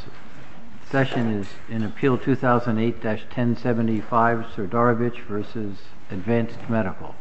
The session is in Appeal 2008-1075, Srdarovic v. Advanced Medical.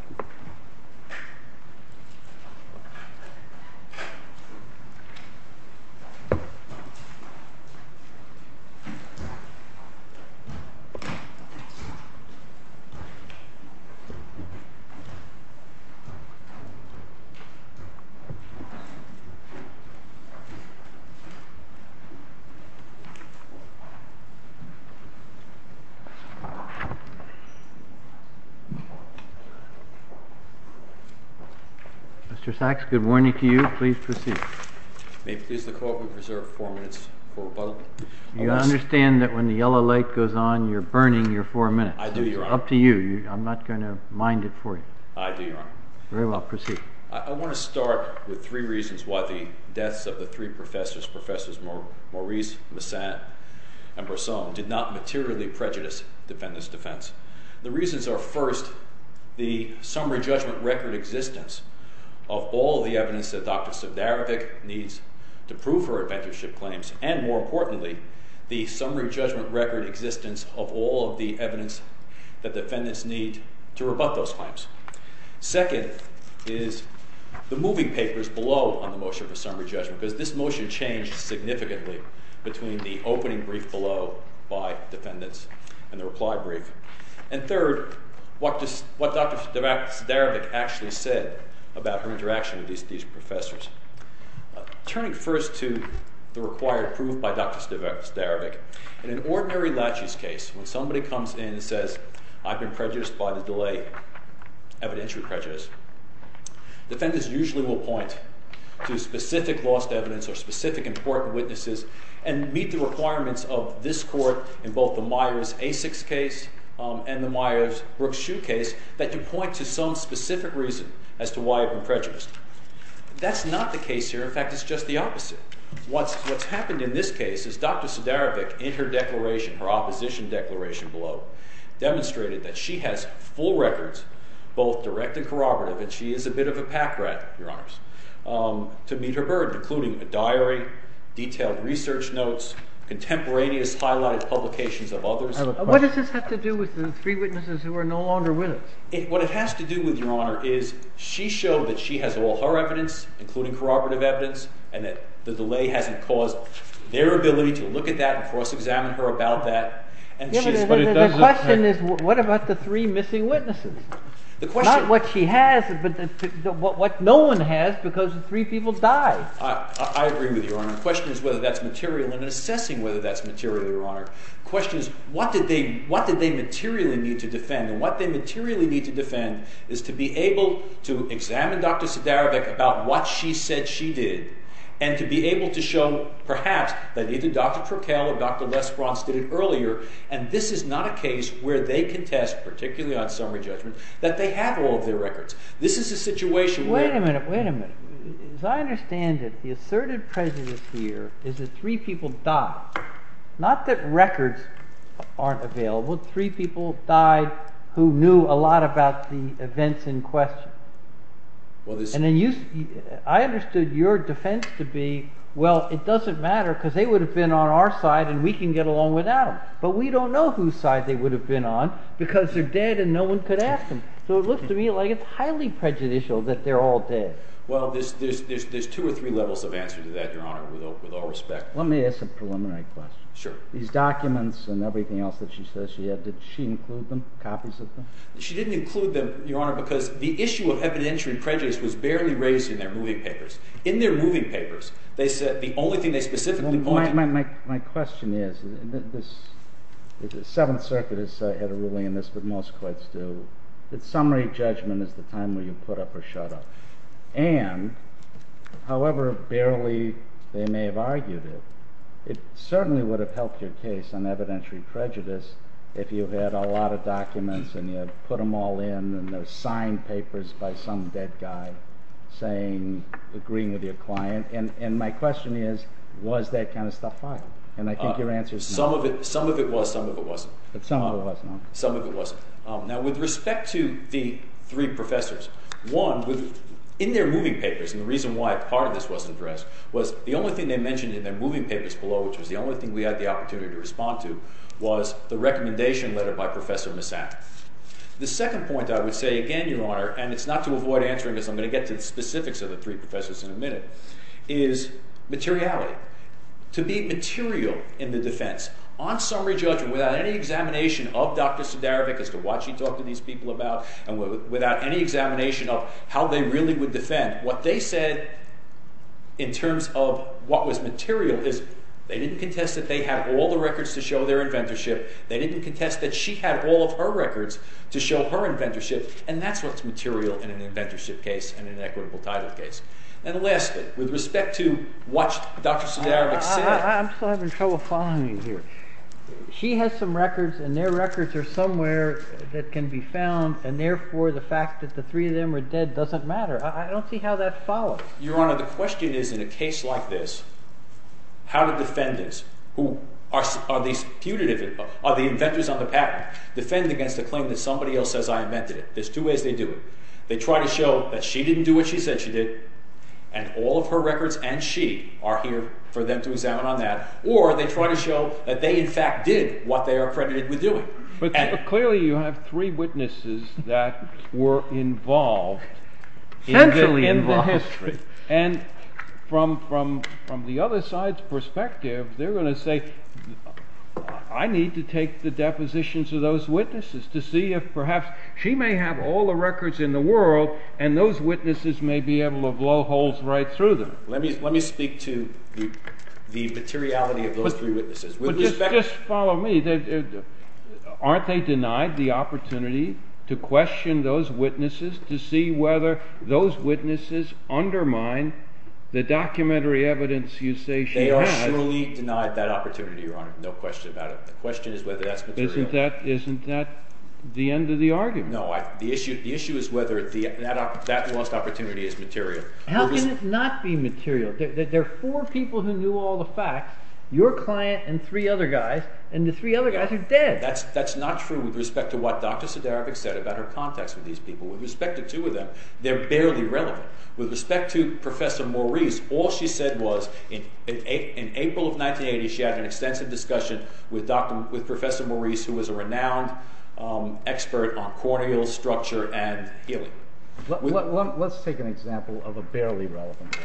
Mr. Sachs, good morning to you. Please proceed. May it please the Court that we preserve four minutes for rebuttal. You understand that when the yellow light goes on, you're burning your four minutes. I do, Your Honor. It's up to you. I'm not going to mind it for you. I do, Your Honor. Very well. Proceed. I want to start with three reasons why the deaths of the three professors, Professors Maurice, Missat, and Brosson, did not materially prejudice defendants' defense. The reasons are, first, the summary judgment record existence of all the evidence that Dr. Srdarovic needs to prove her adventureship claims, and more importantly, the summary judgment record existence of all of the evidence that defendants need to rebut those claims. Second is the moving papers below on the motion for summary judgment, because this motion changed significantly between the opening brief below by defendants and the reply brief. And third, what Dr. Srdarovic actually said about her interaction with these professors. Turning first to the required proof by Dr. Srdarovic, in an ordinary lachies case, when somebody comes in and says, I've been prejudiced by the delay, evidentiary prejudice, defendants usually will point to specific lost evidence or specific important witnesses and meet the requirements of this court in both the Myers-Asics case and the Myers-Brooks-Shue case that you point to some specific reason as to why you've been prejudiced. That's not the case here. In fact, it's just the opposite. What's happened in this case is Dr. Srdarovic, in her declaration, her opposition declaration below, demonstrated that she has full records, both direct and corroborative, and she is a bit of a pack rat, Your Honors, to meet her burden, including a diary, detailed research notes, contemporaneous highlighted publications of others. What does this have to do with the three witnesses who are no longer with us? What it has to do with, Your Honor, is she showed that she has all her evidence, including corroborative evidence, and that the delay hasn't caused their ability to look at that and cross-examine her about that. The question is, what about the three missing witnesses? Not what she has, but what no one has because the three people died. I agree with you, Your Honor. The question is whether that's material, and assessing whether that's material, Your Honor. The question is, what did they materially need to defend? And what they materially need to defend is to be able to examine Dr. Srdarovic that either Dr. Trocadero or Dr. Les Brons did it earlier, and this is not a case where they contest, particularly on summary judgment, that they have all of their records. This is a situation where— Wait a minute. Wait a minute. As I understand it, the asserted prejudice here is that three people died. Not that records aren't available. Three people died who knew a lot about the events in question. And I understood your defense to be, well, it doesn't matter because they would have been on our side and we can get along without them. But we don't know whose side they would have been on because they're dead and no one could ask them. So it looks to me like it's highly prejudicial that they're all dead. Well, there's two or three levels of answer to that, Your Honor, with all respect. Let me ask a preliminary question. Sure. These documents and everything else that she says she had, did she include them, copies of them? She didn't include them, Your Honor, because the issue of evidentiary prejudice was barely raised in their moving papers. In their moving papers, they said the only thing they specifically pointed— My question is, the Seventh Circuit has had a ruling in this, but most courts do, that summary judgment is the time where you put up or shut up. And, however barely they may have argued it, it certainly would have helped your case on evidentiary prejudice if you had a lot of documents and you had put them all in and there were signed papers by some dead guy agreeing with your client. And my question is, was that kind of stuff filed? And I think your answer is no. Some of it was, some of it wasn't. But some of it was, no? Some of it wasn't. Now, with respect to the three professors, one, in their moving papers, and the reason why part of this wasn't addressed, was the only thing they mentioned in their moving papers below, which was the only thing we had the opportunity to respond to, was the recommendation letter by Professor Massan. The second point I would say, again, Your Honor, and it's not to avoid answering this, I'm going to get to the specifics of the three professors in a minute, is materiality. To be material in the defense, on summary judgment, without any examination of Dr. Sudarovic as to what she talked to these people about, and without any examination of how they really would defend, what they said, in terms of what was material, is they didn't contest that they had all the records to show their inventorship, they didn't contest that she had all of her records to show her inventorship, and that's what's material in an inventorship case and an equitable title case. And lastly, with respect to what Dr. Sudarovic said, I'm still having trouble following you here. She has some records, and their records are somewhere that can be found, and therefore the fact that the three of them are dead doesn't matter. I don't see how that follows. Your Honor, the question is, in a case like this, how do defendants, who are the inventors on the patent, defend against the claim that somebody else says I invented it? There's two ways they do it. They try to show that she didn't do what she said she did, and all of her records and she are here for them to examine on that, or they try to show that they, in fact, did what they are accredited with doing. But clearly you have three witnesses that were involved in the history. And from the other side's perspective, they're going to say, I need to take the depositions of those witnesses to see if perhaps she may have all the records in the world, and those witnesses may be able to blow holes right through them. Let me speak to the materiality of those three witnesses. But just follow me. Aren't they denied the opportunity to question those witnesses to see whether those witnesses undermine the documentary evidence you say she had? They are surely denied that opportunity, Your Honor. No question about it. The question is whether that's material. Isn't that the end of the argument? No. The issue is whether that lost opportunity is material. How can it not be material? There are four people who knew all the facts. Your client and three other guys, and the three other guys are dead. That's not true with respect to what Dr. Sedarevic said about her contacts with these people. With respect to two of them, they're barely relevant. With respect to Professor Maurice, all she said was in April of 1980 she had an extensive discussion with Professor Maurice, who was a renowned expert on corneal structure and healing. Let's take an example of a barely relevant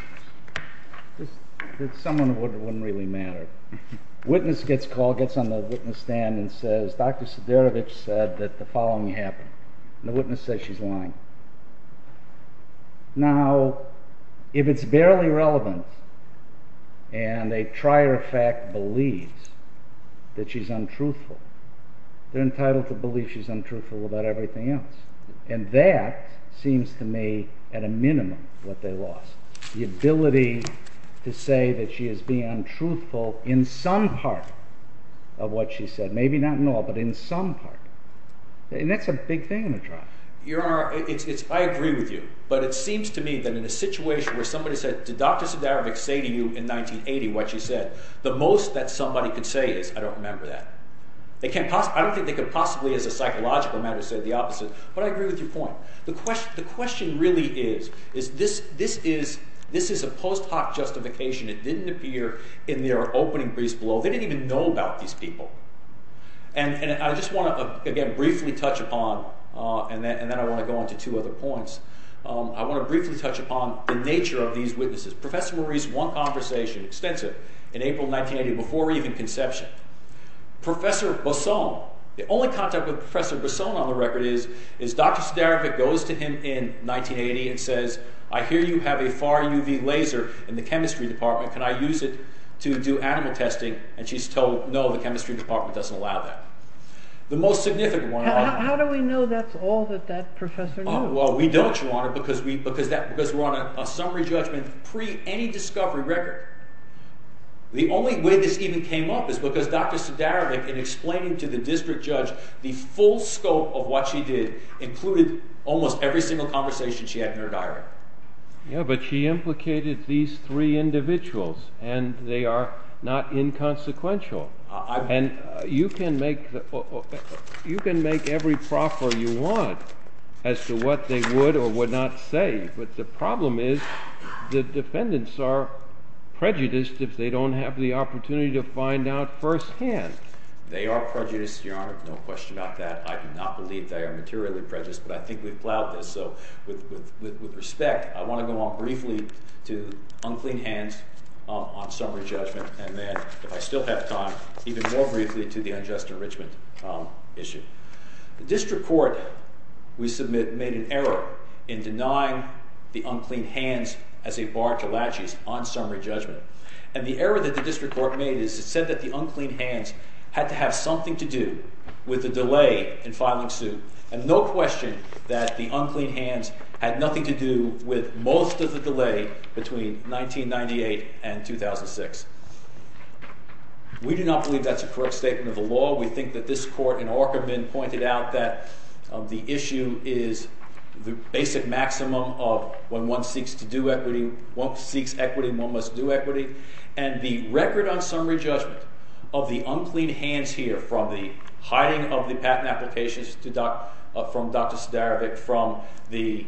witness. This is someone who wouldn't really matter. A witness gets called, gets on the witness stand, and says, Dr. Sedarevic said that the following happened. The witness says she's lying. Now, if it's barely relevant, and a trier of fact believes that she's untruthful, they're entitled to believe she's untruthful about everything else. And that seems to me, at a minimum, what they lost. The ability to say that she is being untruthful in some part of what she said. Maybe not in all, but in some part. And that's a big thing in a trial. Your Honor, I agree with you. But it seems to me that in a situation where somebody said, did Dr. Sedarevic say to you in 1980 what she said, the most that somebody could say is, I don't remember that. I don't think they could possibly, as a psychological matter, say the opposite. But I agree with your point. The question really is, this is a post hoc justification. It didn't appear in their opening briefs below. They didn't even know about these people. And I just want to, again, briefly touch upon, and then I want to go on to two other points. I want to briefly touch upon the nature of these witnesses. Professor Maurice won conversation, extensive, in April 1980, before even conception. Professor Bosson, the only contact with Professor Bosson on the record, is Dr. Sedarevic goes to him in 1980 and says, I hear you have a far UV laser in the chemistry department. Can I use it to do animal testing? And she's told, no, the chemistry department doesn't allow that. The most significant one... How do we know that's all that that professor knew? Well, we don't, Your Honor, because we're on a summary judgment pre any discovery record. The only way this even came up is because Dr. Sedarevic, in explaining to the district judge the full scope of what she did, included almost every single conversation she had in her diary. Yeah, but she implicated these three individuals, and they are not inconsequential. And you can make every proffer you want as to what they would or would not say, but the problem is the defendants are prejudiced if they don't have the opportunity to find out firsthand. They are prejudiced, Your Honor, no question about that. I do not believe they are materially prejudiced, but I think we've plowed this. So with respect, I want to go on briefly to unclean hands on summary judgment, and then, if I still have time, even more briefly to the unjust enrichment issue. The district court, we submit, made an error in denying the unclean hands as a bar to laches on summary judgment. And the error that the district court made is it said that the unclean hands had to have something to do with the delay in filing suit, and no question that the unclean hands had nothing to do with most of the delay between 1998 and 2006. We do not believe that's a correct statement of the law. We think that this court in Aukerman pointed out that the issue is the basic maximum of when one seeks to do equity, one seeks equity, one must do equity. And the record on summary judgment of the unclean hands here, from the hiding of the patent applications from Dr. Sedarevic, from the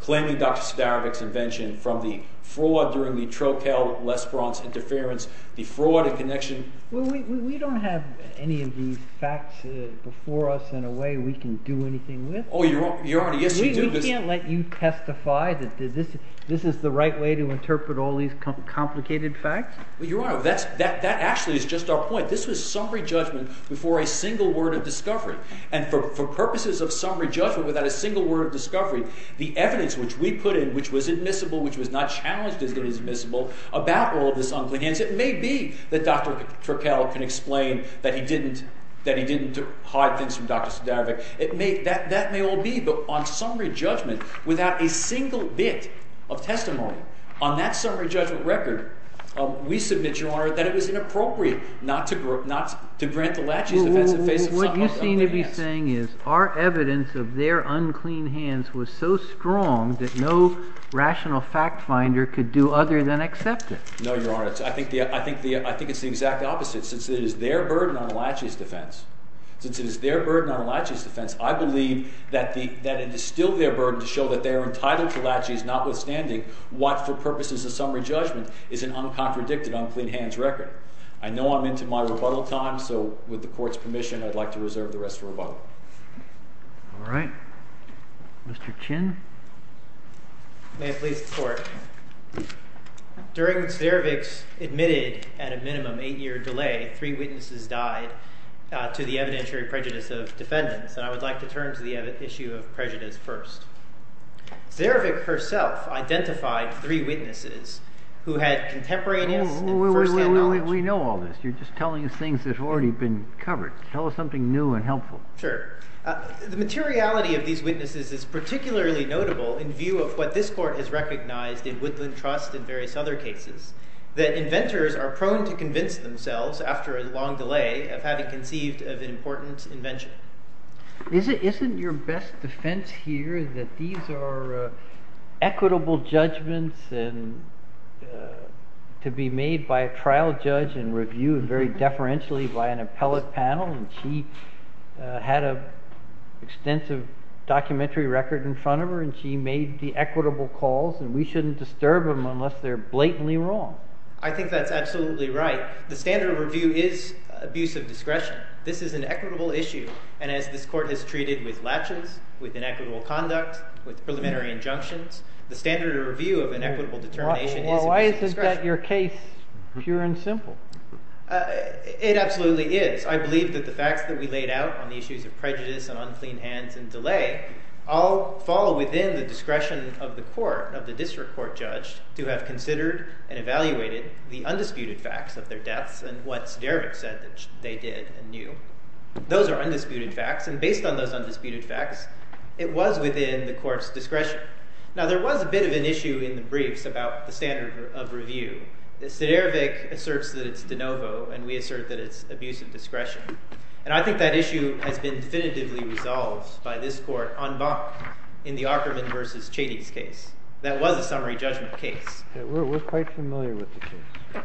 claiming Dr. Sedarevic's invention, from the fraud during the Trocadéro-L'Esperance interference, the fraud in connection. We don't have any of these facts before us in a way we can do anything with. Oh, Your Honor, yes you do. We can't let you testify that this is the right way to interpret all these complicated facts? Well, Your Honor, that actually is just our point. This was summary judgment before a single word of discovery. And for purposes of summary judgment without a single word of discovery, the evidence which we put in, which was admissible, which was not challenged as being admissible, about all of this unclean hands, it may be that Dr. Trocadéro can explain that he didn't hide things from Dr. Sedarevic. That may all be, but on summary judgment without a single bit of testimony, on that summary judgment record, we submit, Your Honor, that it was inappropriate not to grant Alachi's defense in the face of some unclean hands. What you seem to be saying is our evidence of their unclean hands was so strong that no rational fact finder could do other than accept it. No, Your Honor, I think it's the exact opposite. Since it is their burden on Alachi's defense, since it is their burden on Alachi's defense, I believe that it is still their burden to show that they are entitled to Alachi's notwithstanding what for purposes of summary judgment is an uncontradicted unclean hands record. I know I'm into my rebuttal time, so with the Court's permission, I'd like to reserve the rest of rebuttal. All right. Mr. Chin. May it please the Court. During Sedarevic's admitted, at a minimum, eight-year delay, three witnesses died to the evidentiary prejudice of defendants, and I would like to turn to the issue of prejudice first. Sedarevic herself identified three witnesses who had contemporaneous and first-hand knowledge. We know all this. You're just telling us things that have already been covered. Tell us something new and helpful. Sure. The materiality of these witnesses is particularly notable in view of what this Court has recognized in Woodland Trust and various other cases, that inventors are prone to convince themselves, after a long delay, of having conceived of an important invention. Isn't your best defense here that these are equitable judgments and to be made by a trial judge and reviewed very deferentially by an appellate panel and she had an extensive documentary record in front of her and she made the equitable calls and we shouldn't disturb them unless they're blatantly wrong? I think that's absolutely right. The standard of review is abuse of discretion. This is an equitable issue, and as this Court has treated with latches, with inequitable conduct, with preliminary injunctions, the standard of review of an equitable determination is abuse of discretion. Well, why isn't that your case, pure and simple? It absolutely is. I believe that the facts that we laid out on the issues of prejudice and unclean hands and delay all fall within the discretion of the court, of the district court judge, to have considered and evaluated the undisputed facts of their deaths and what Siderovic said that they did and knew. Those are undisputed facts, and based on those undisputed facts, it was within the Court's discretion. Now, there was a bit of an issue in the briefs about the standard of review. Siderovic asserts that it's de novo, and we assert that it's abuse of discretion. And I think that issue has been definitively resolved by this Court en banc in the Opperman v. Chady's case. That was a summary judgment case. We're quite familiar with the case.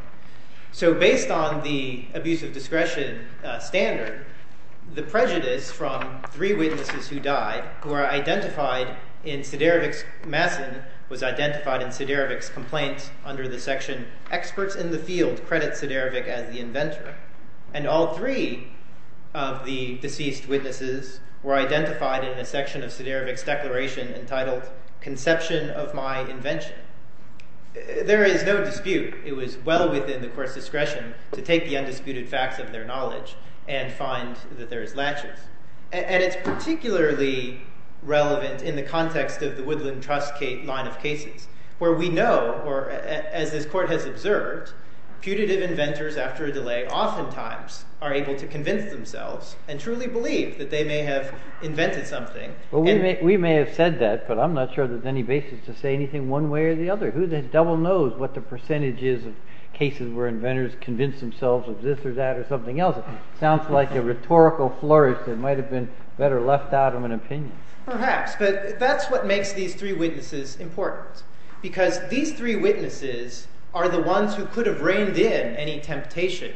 So based on the abuse of discretion standard, the prejudice from three witnesses who died, who are identified in Siderovic's Massen was identified in Siderovic's complaint under the section experts in the field credit Siderovic as the inventor. And all three of the deceased witnesses were identified in a section of Siderovic's declaration entitled conception of my invention. There is no dispute. It was well within the Court's discretion to take the undisputed facts of their knowledge and find that there is latches. And it's particularly relevant in the context of the Woodland Trust line of cases where we know, or as this Court has observed, putative inventors after a delay oftentimes are able to convince themselves and truly believe that they may have invented something. We may have said that, but I'm not sure there's any basis to say anything one way or the other. Who the devil knows what the percentage is of cases where inventors convince themselves of this or that or something else. It sounds like a rhetorical flourish that might have been better left out of an opinion. Perhaps, but that's what makes these three witnesses important. Because these three witnesses are the ones who could have reined in any temptation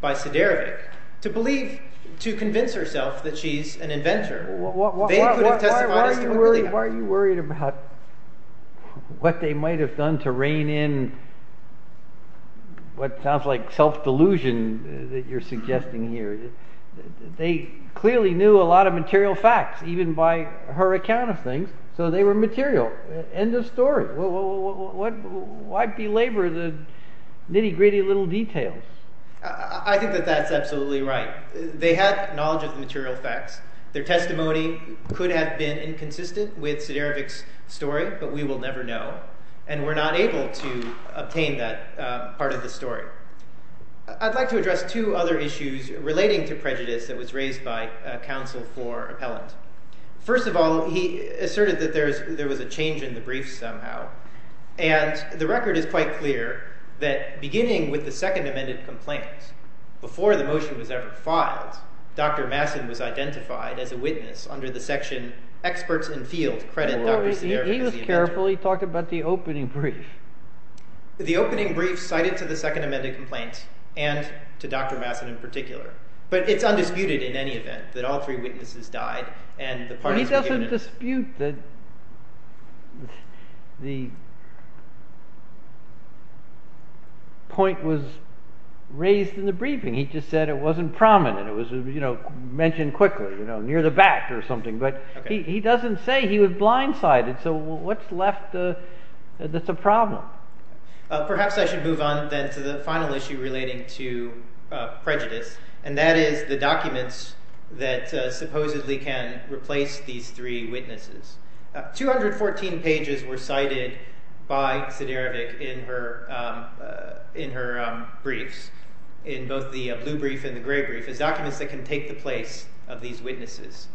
by Siderovic to believe, to convince herself that she's an inventor. Why are you worried about what they might have done to rein in what sounds like They clearly knew a lot of material facts, even by her account of things, so they were material. End of story. Why belabor the nitty-gritty little details? I think that that's absolutely right. They had knowledge of the material facts. Their testimony could have been inconsistent with Siderovic's story, but we will never know. And we're not able to obtain that part of the story. I'd like to address two other issues relating to prejudice that was raised by counsel for appellant. First of all, he asserted that there was a change in the brief somehow. And the record is quite clear that beginning with the second amended complaint, before the motion was ever filed, Dr. Masson was identified as a witness under the section experts in field credit Dr. Siderovic as the inventor. He was careful. He talked about the opening brief. The opening brief cited to the second amended complaint, and to Dr. Masson in particular. But it's undisputed in any event that all three witnesses died. He doesn't dispute that the point was raised in the briefing. He just said it wasn't prominent. It was mentioned quickly, near the back or something. But he doesn't say he was blindsided. So what's left that's a problem? Perhaps I should move on then to the final issue relating to prejudice. And that is the documents that supposedly can replace these three witnesses. 214 pages were cited by Siderovic in her briefs, in both the blue brief and the gray brief, as documents that can take the place of these witnesses.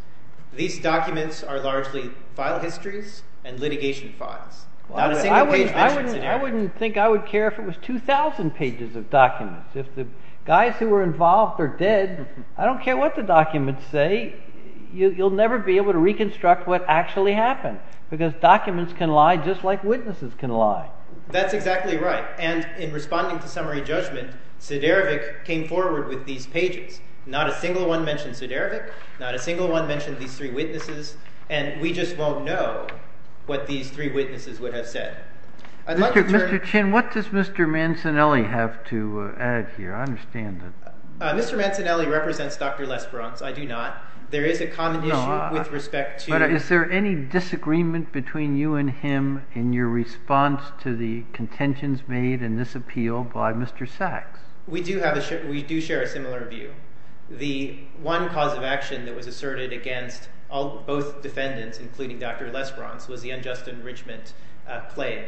These documents are largely file histories and litigation files. Not a single page mentions Siderovic. I wouldn't think I would care if it was 2,000 pages of documents. If the guys who were involved are dead, I don't care what the documents say. You'll never be able to reconstruct what actually happened. Because documents can lie just like witnesses can lie. That's exactly right. And in responding to summary judgment, Siderovic came forward with these pages. Not a single one mentions Siderovic. Not a single one mentioned these three witnesses. And we just won't know what these three witnesses would have said. Mr. Chin, what does Mr. Mancinelli have to add here? I understand that. Mr. Mancinelli represents Dr. Lesperance. I do not. There is a common issue with respect to— But is there any disagreement between you and him in your response to the contentions made in this appeal by Mr. Sachs? We do share a similar view. The one cause of action that was asserted against both defendants, including Dr. Lesperance, was the unjust enrichment claim.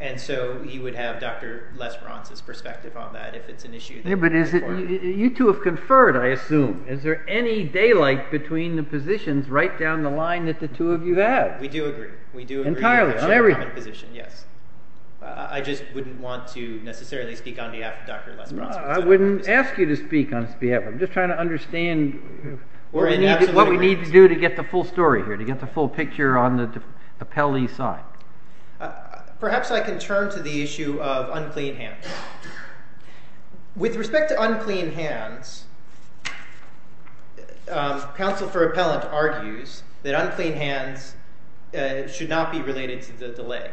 And so you would have Dr. Lesperance's perspective on that if it's an issue. Yeah, but you two have conferred, I assume. Is there any daylight between the positions right down the line that the two of you have? We do agree. Entirely. Yes. I just wouldn't want to necessarily speak on behalf of Dr. Lesperance. I wouldn't ask you to speak on his behalf. I'm just trying to understand what we need to do to get the full story here, to get the full picture on the appellee's side. Perhaps I can turn to the issue of unclean hands. With respect to unclean hands, counsel for appellant argues that unclean hands should not be related to the delay.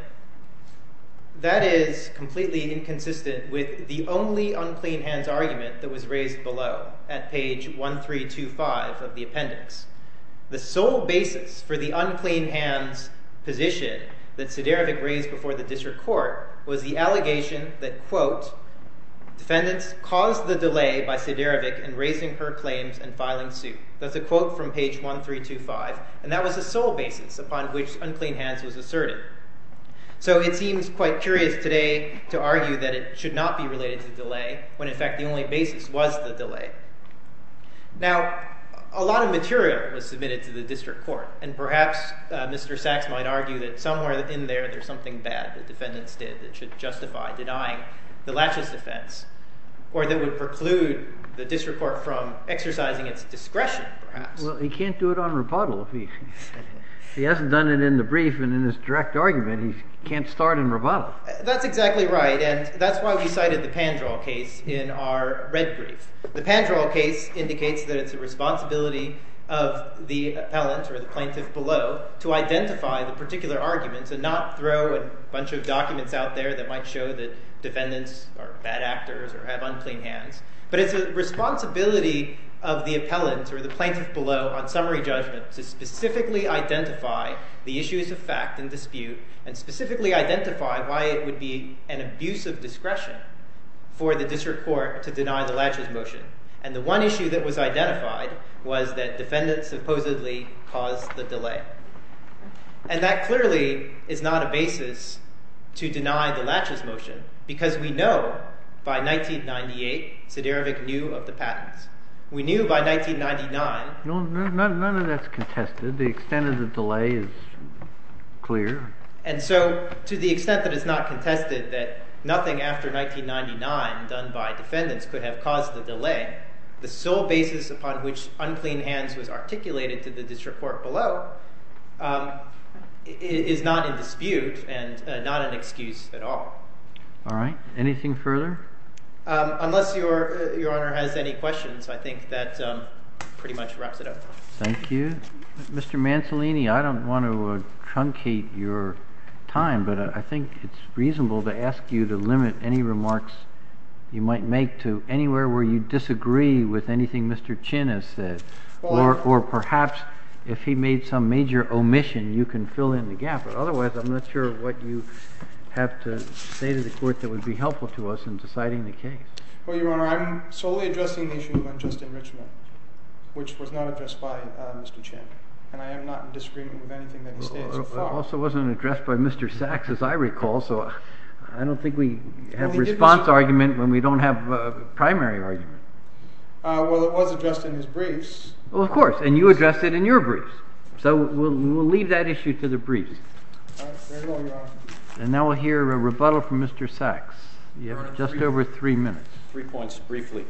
That is completely inconsistent with the only unclean hands argument that was raised below at page 1325 of the appendix. The sole basis for the unclean hands position that Siderovic raised before the district court was the allegation that, quote, defendants caused the delay by Siderovic in raising her claims and filing suit. That's a quote from page 1325, and that was the sole basis upon which unclean hands was asserted. So it seems quite curious today to argue that it should not be related to delay when, in fact, the only basis was the delay. Now, a lot of material was submitted to the district court, and perhaps Mr. Sachs might argue that somewhere in there there's something bad that defendants did that should justify denying the laches defense, or that would preclude the district court from exercising its discretion, perhaps. Well, he can't do it on rebuttal. If he hasn't done it in the brief and in his direct argument, he can't start in rebuttal. That's exactly right, and that's why we cited the Pandrel case in our red brief. The Pandrel case indicates that it's the responsibility of the appellant or the plaintiff below to identify the particular argument and to not throw a bunch of documents out there that might show that defendants are bad actors or have unclean hands, but it's the responsibility of the appellant or the plaintiff below on summary judgment to specifically identify the issues of fact and dispute and specifically identify why it would be an abuse of discretion for the district court to deny the laches motion. And the one issue that was identified was that defendants supposedly caused the delay. And that clearly is not a basis to deny the laches motion because we know by 1998 Siderovic knew of the patents. We knew by 1999... No, none of that's contested. The extent of the delay is clear. And so to the extent that it's not contested that nothing after 1999 done by defendants could have caused the delay, the sole basis upon which unclean hands was articulated to the district court below is not in dispute and not an excuse at all. All right. Anything further? Unless Your Honor has any questions, I think that pretty much wraps it up. Thank you. Mr. Mancellini, I don't want to truncate your time, but I think it's reasonable to ask you to limit any remarks you might make to anywhere where you disagree with anything Mr. Chin has said or perhaps if he made some major omission, you can fill in the gap. But otherwise, I'm not sure what you have to say to the court that would be helpful to us in deciding the case. Well, Your Honor, I'm solely addressing the issue of unjust enrichment, which was not addressed by Mr. Chin. And I am not in disagreement with anything that he says. It also wasn't addressed by Mr. Sachs, as I recall, so I don't think we have a response argument when we don't have a primary argument. Well, it was addressed in his briefs. Well, of course, and you addressed it in your briefs. So we'll leave that issue to the briefs. Very well, Your Honor. And now we'll hear a rebuttal from Mr. Sachs. You have just over three minutes. Three points, briefly.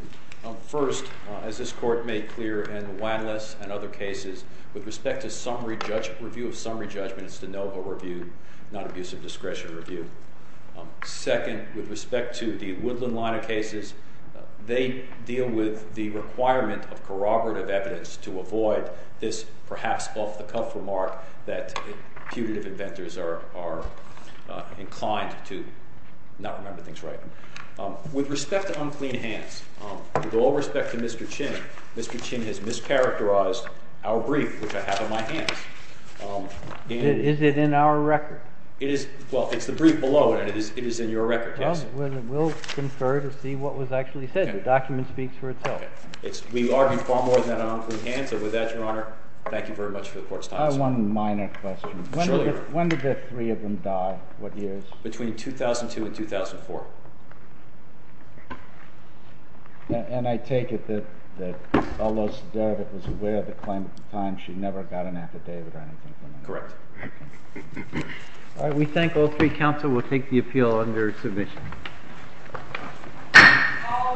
First, as this Court made clear in the Wadless and other cases, with respect to summary review of summary judgment, it's the NOVO review, not abusive discretion review. Second, with respect to the Woodland line of cases, they deal with the requirement of corroborative evidence to avoid this perhaps off-the-cuff remark that putative inventors are inclined to not remember things right. With respect to unclean hands, with all respect to Mr. Chin, Mr. Chin has mischaracterized our brief, which I have in my hands. Is it in our record? Well, it's the brief below, and it is in your record, yes. Well, we'll confer to see what was actually said. The document speaks for itself. We argue far more than on unclean hands. And with that, Your Honor, thank you very much for the Court's time. I have one minor question. When did the three of them die? What years? Between 2002 and 2004. And I take it that although Siderovic was aware of the claim at the time, she never got an affidavit or anything? Correct. All right. We thank all three counsel. We'll take the appeal under submission. All rise.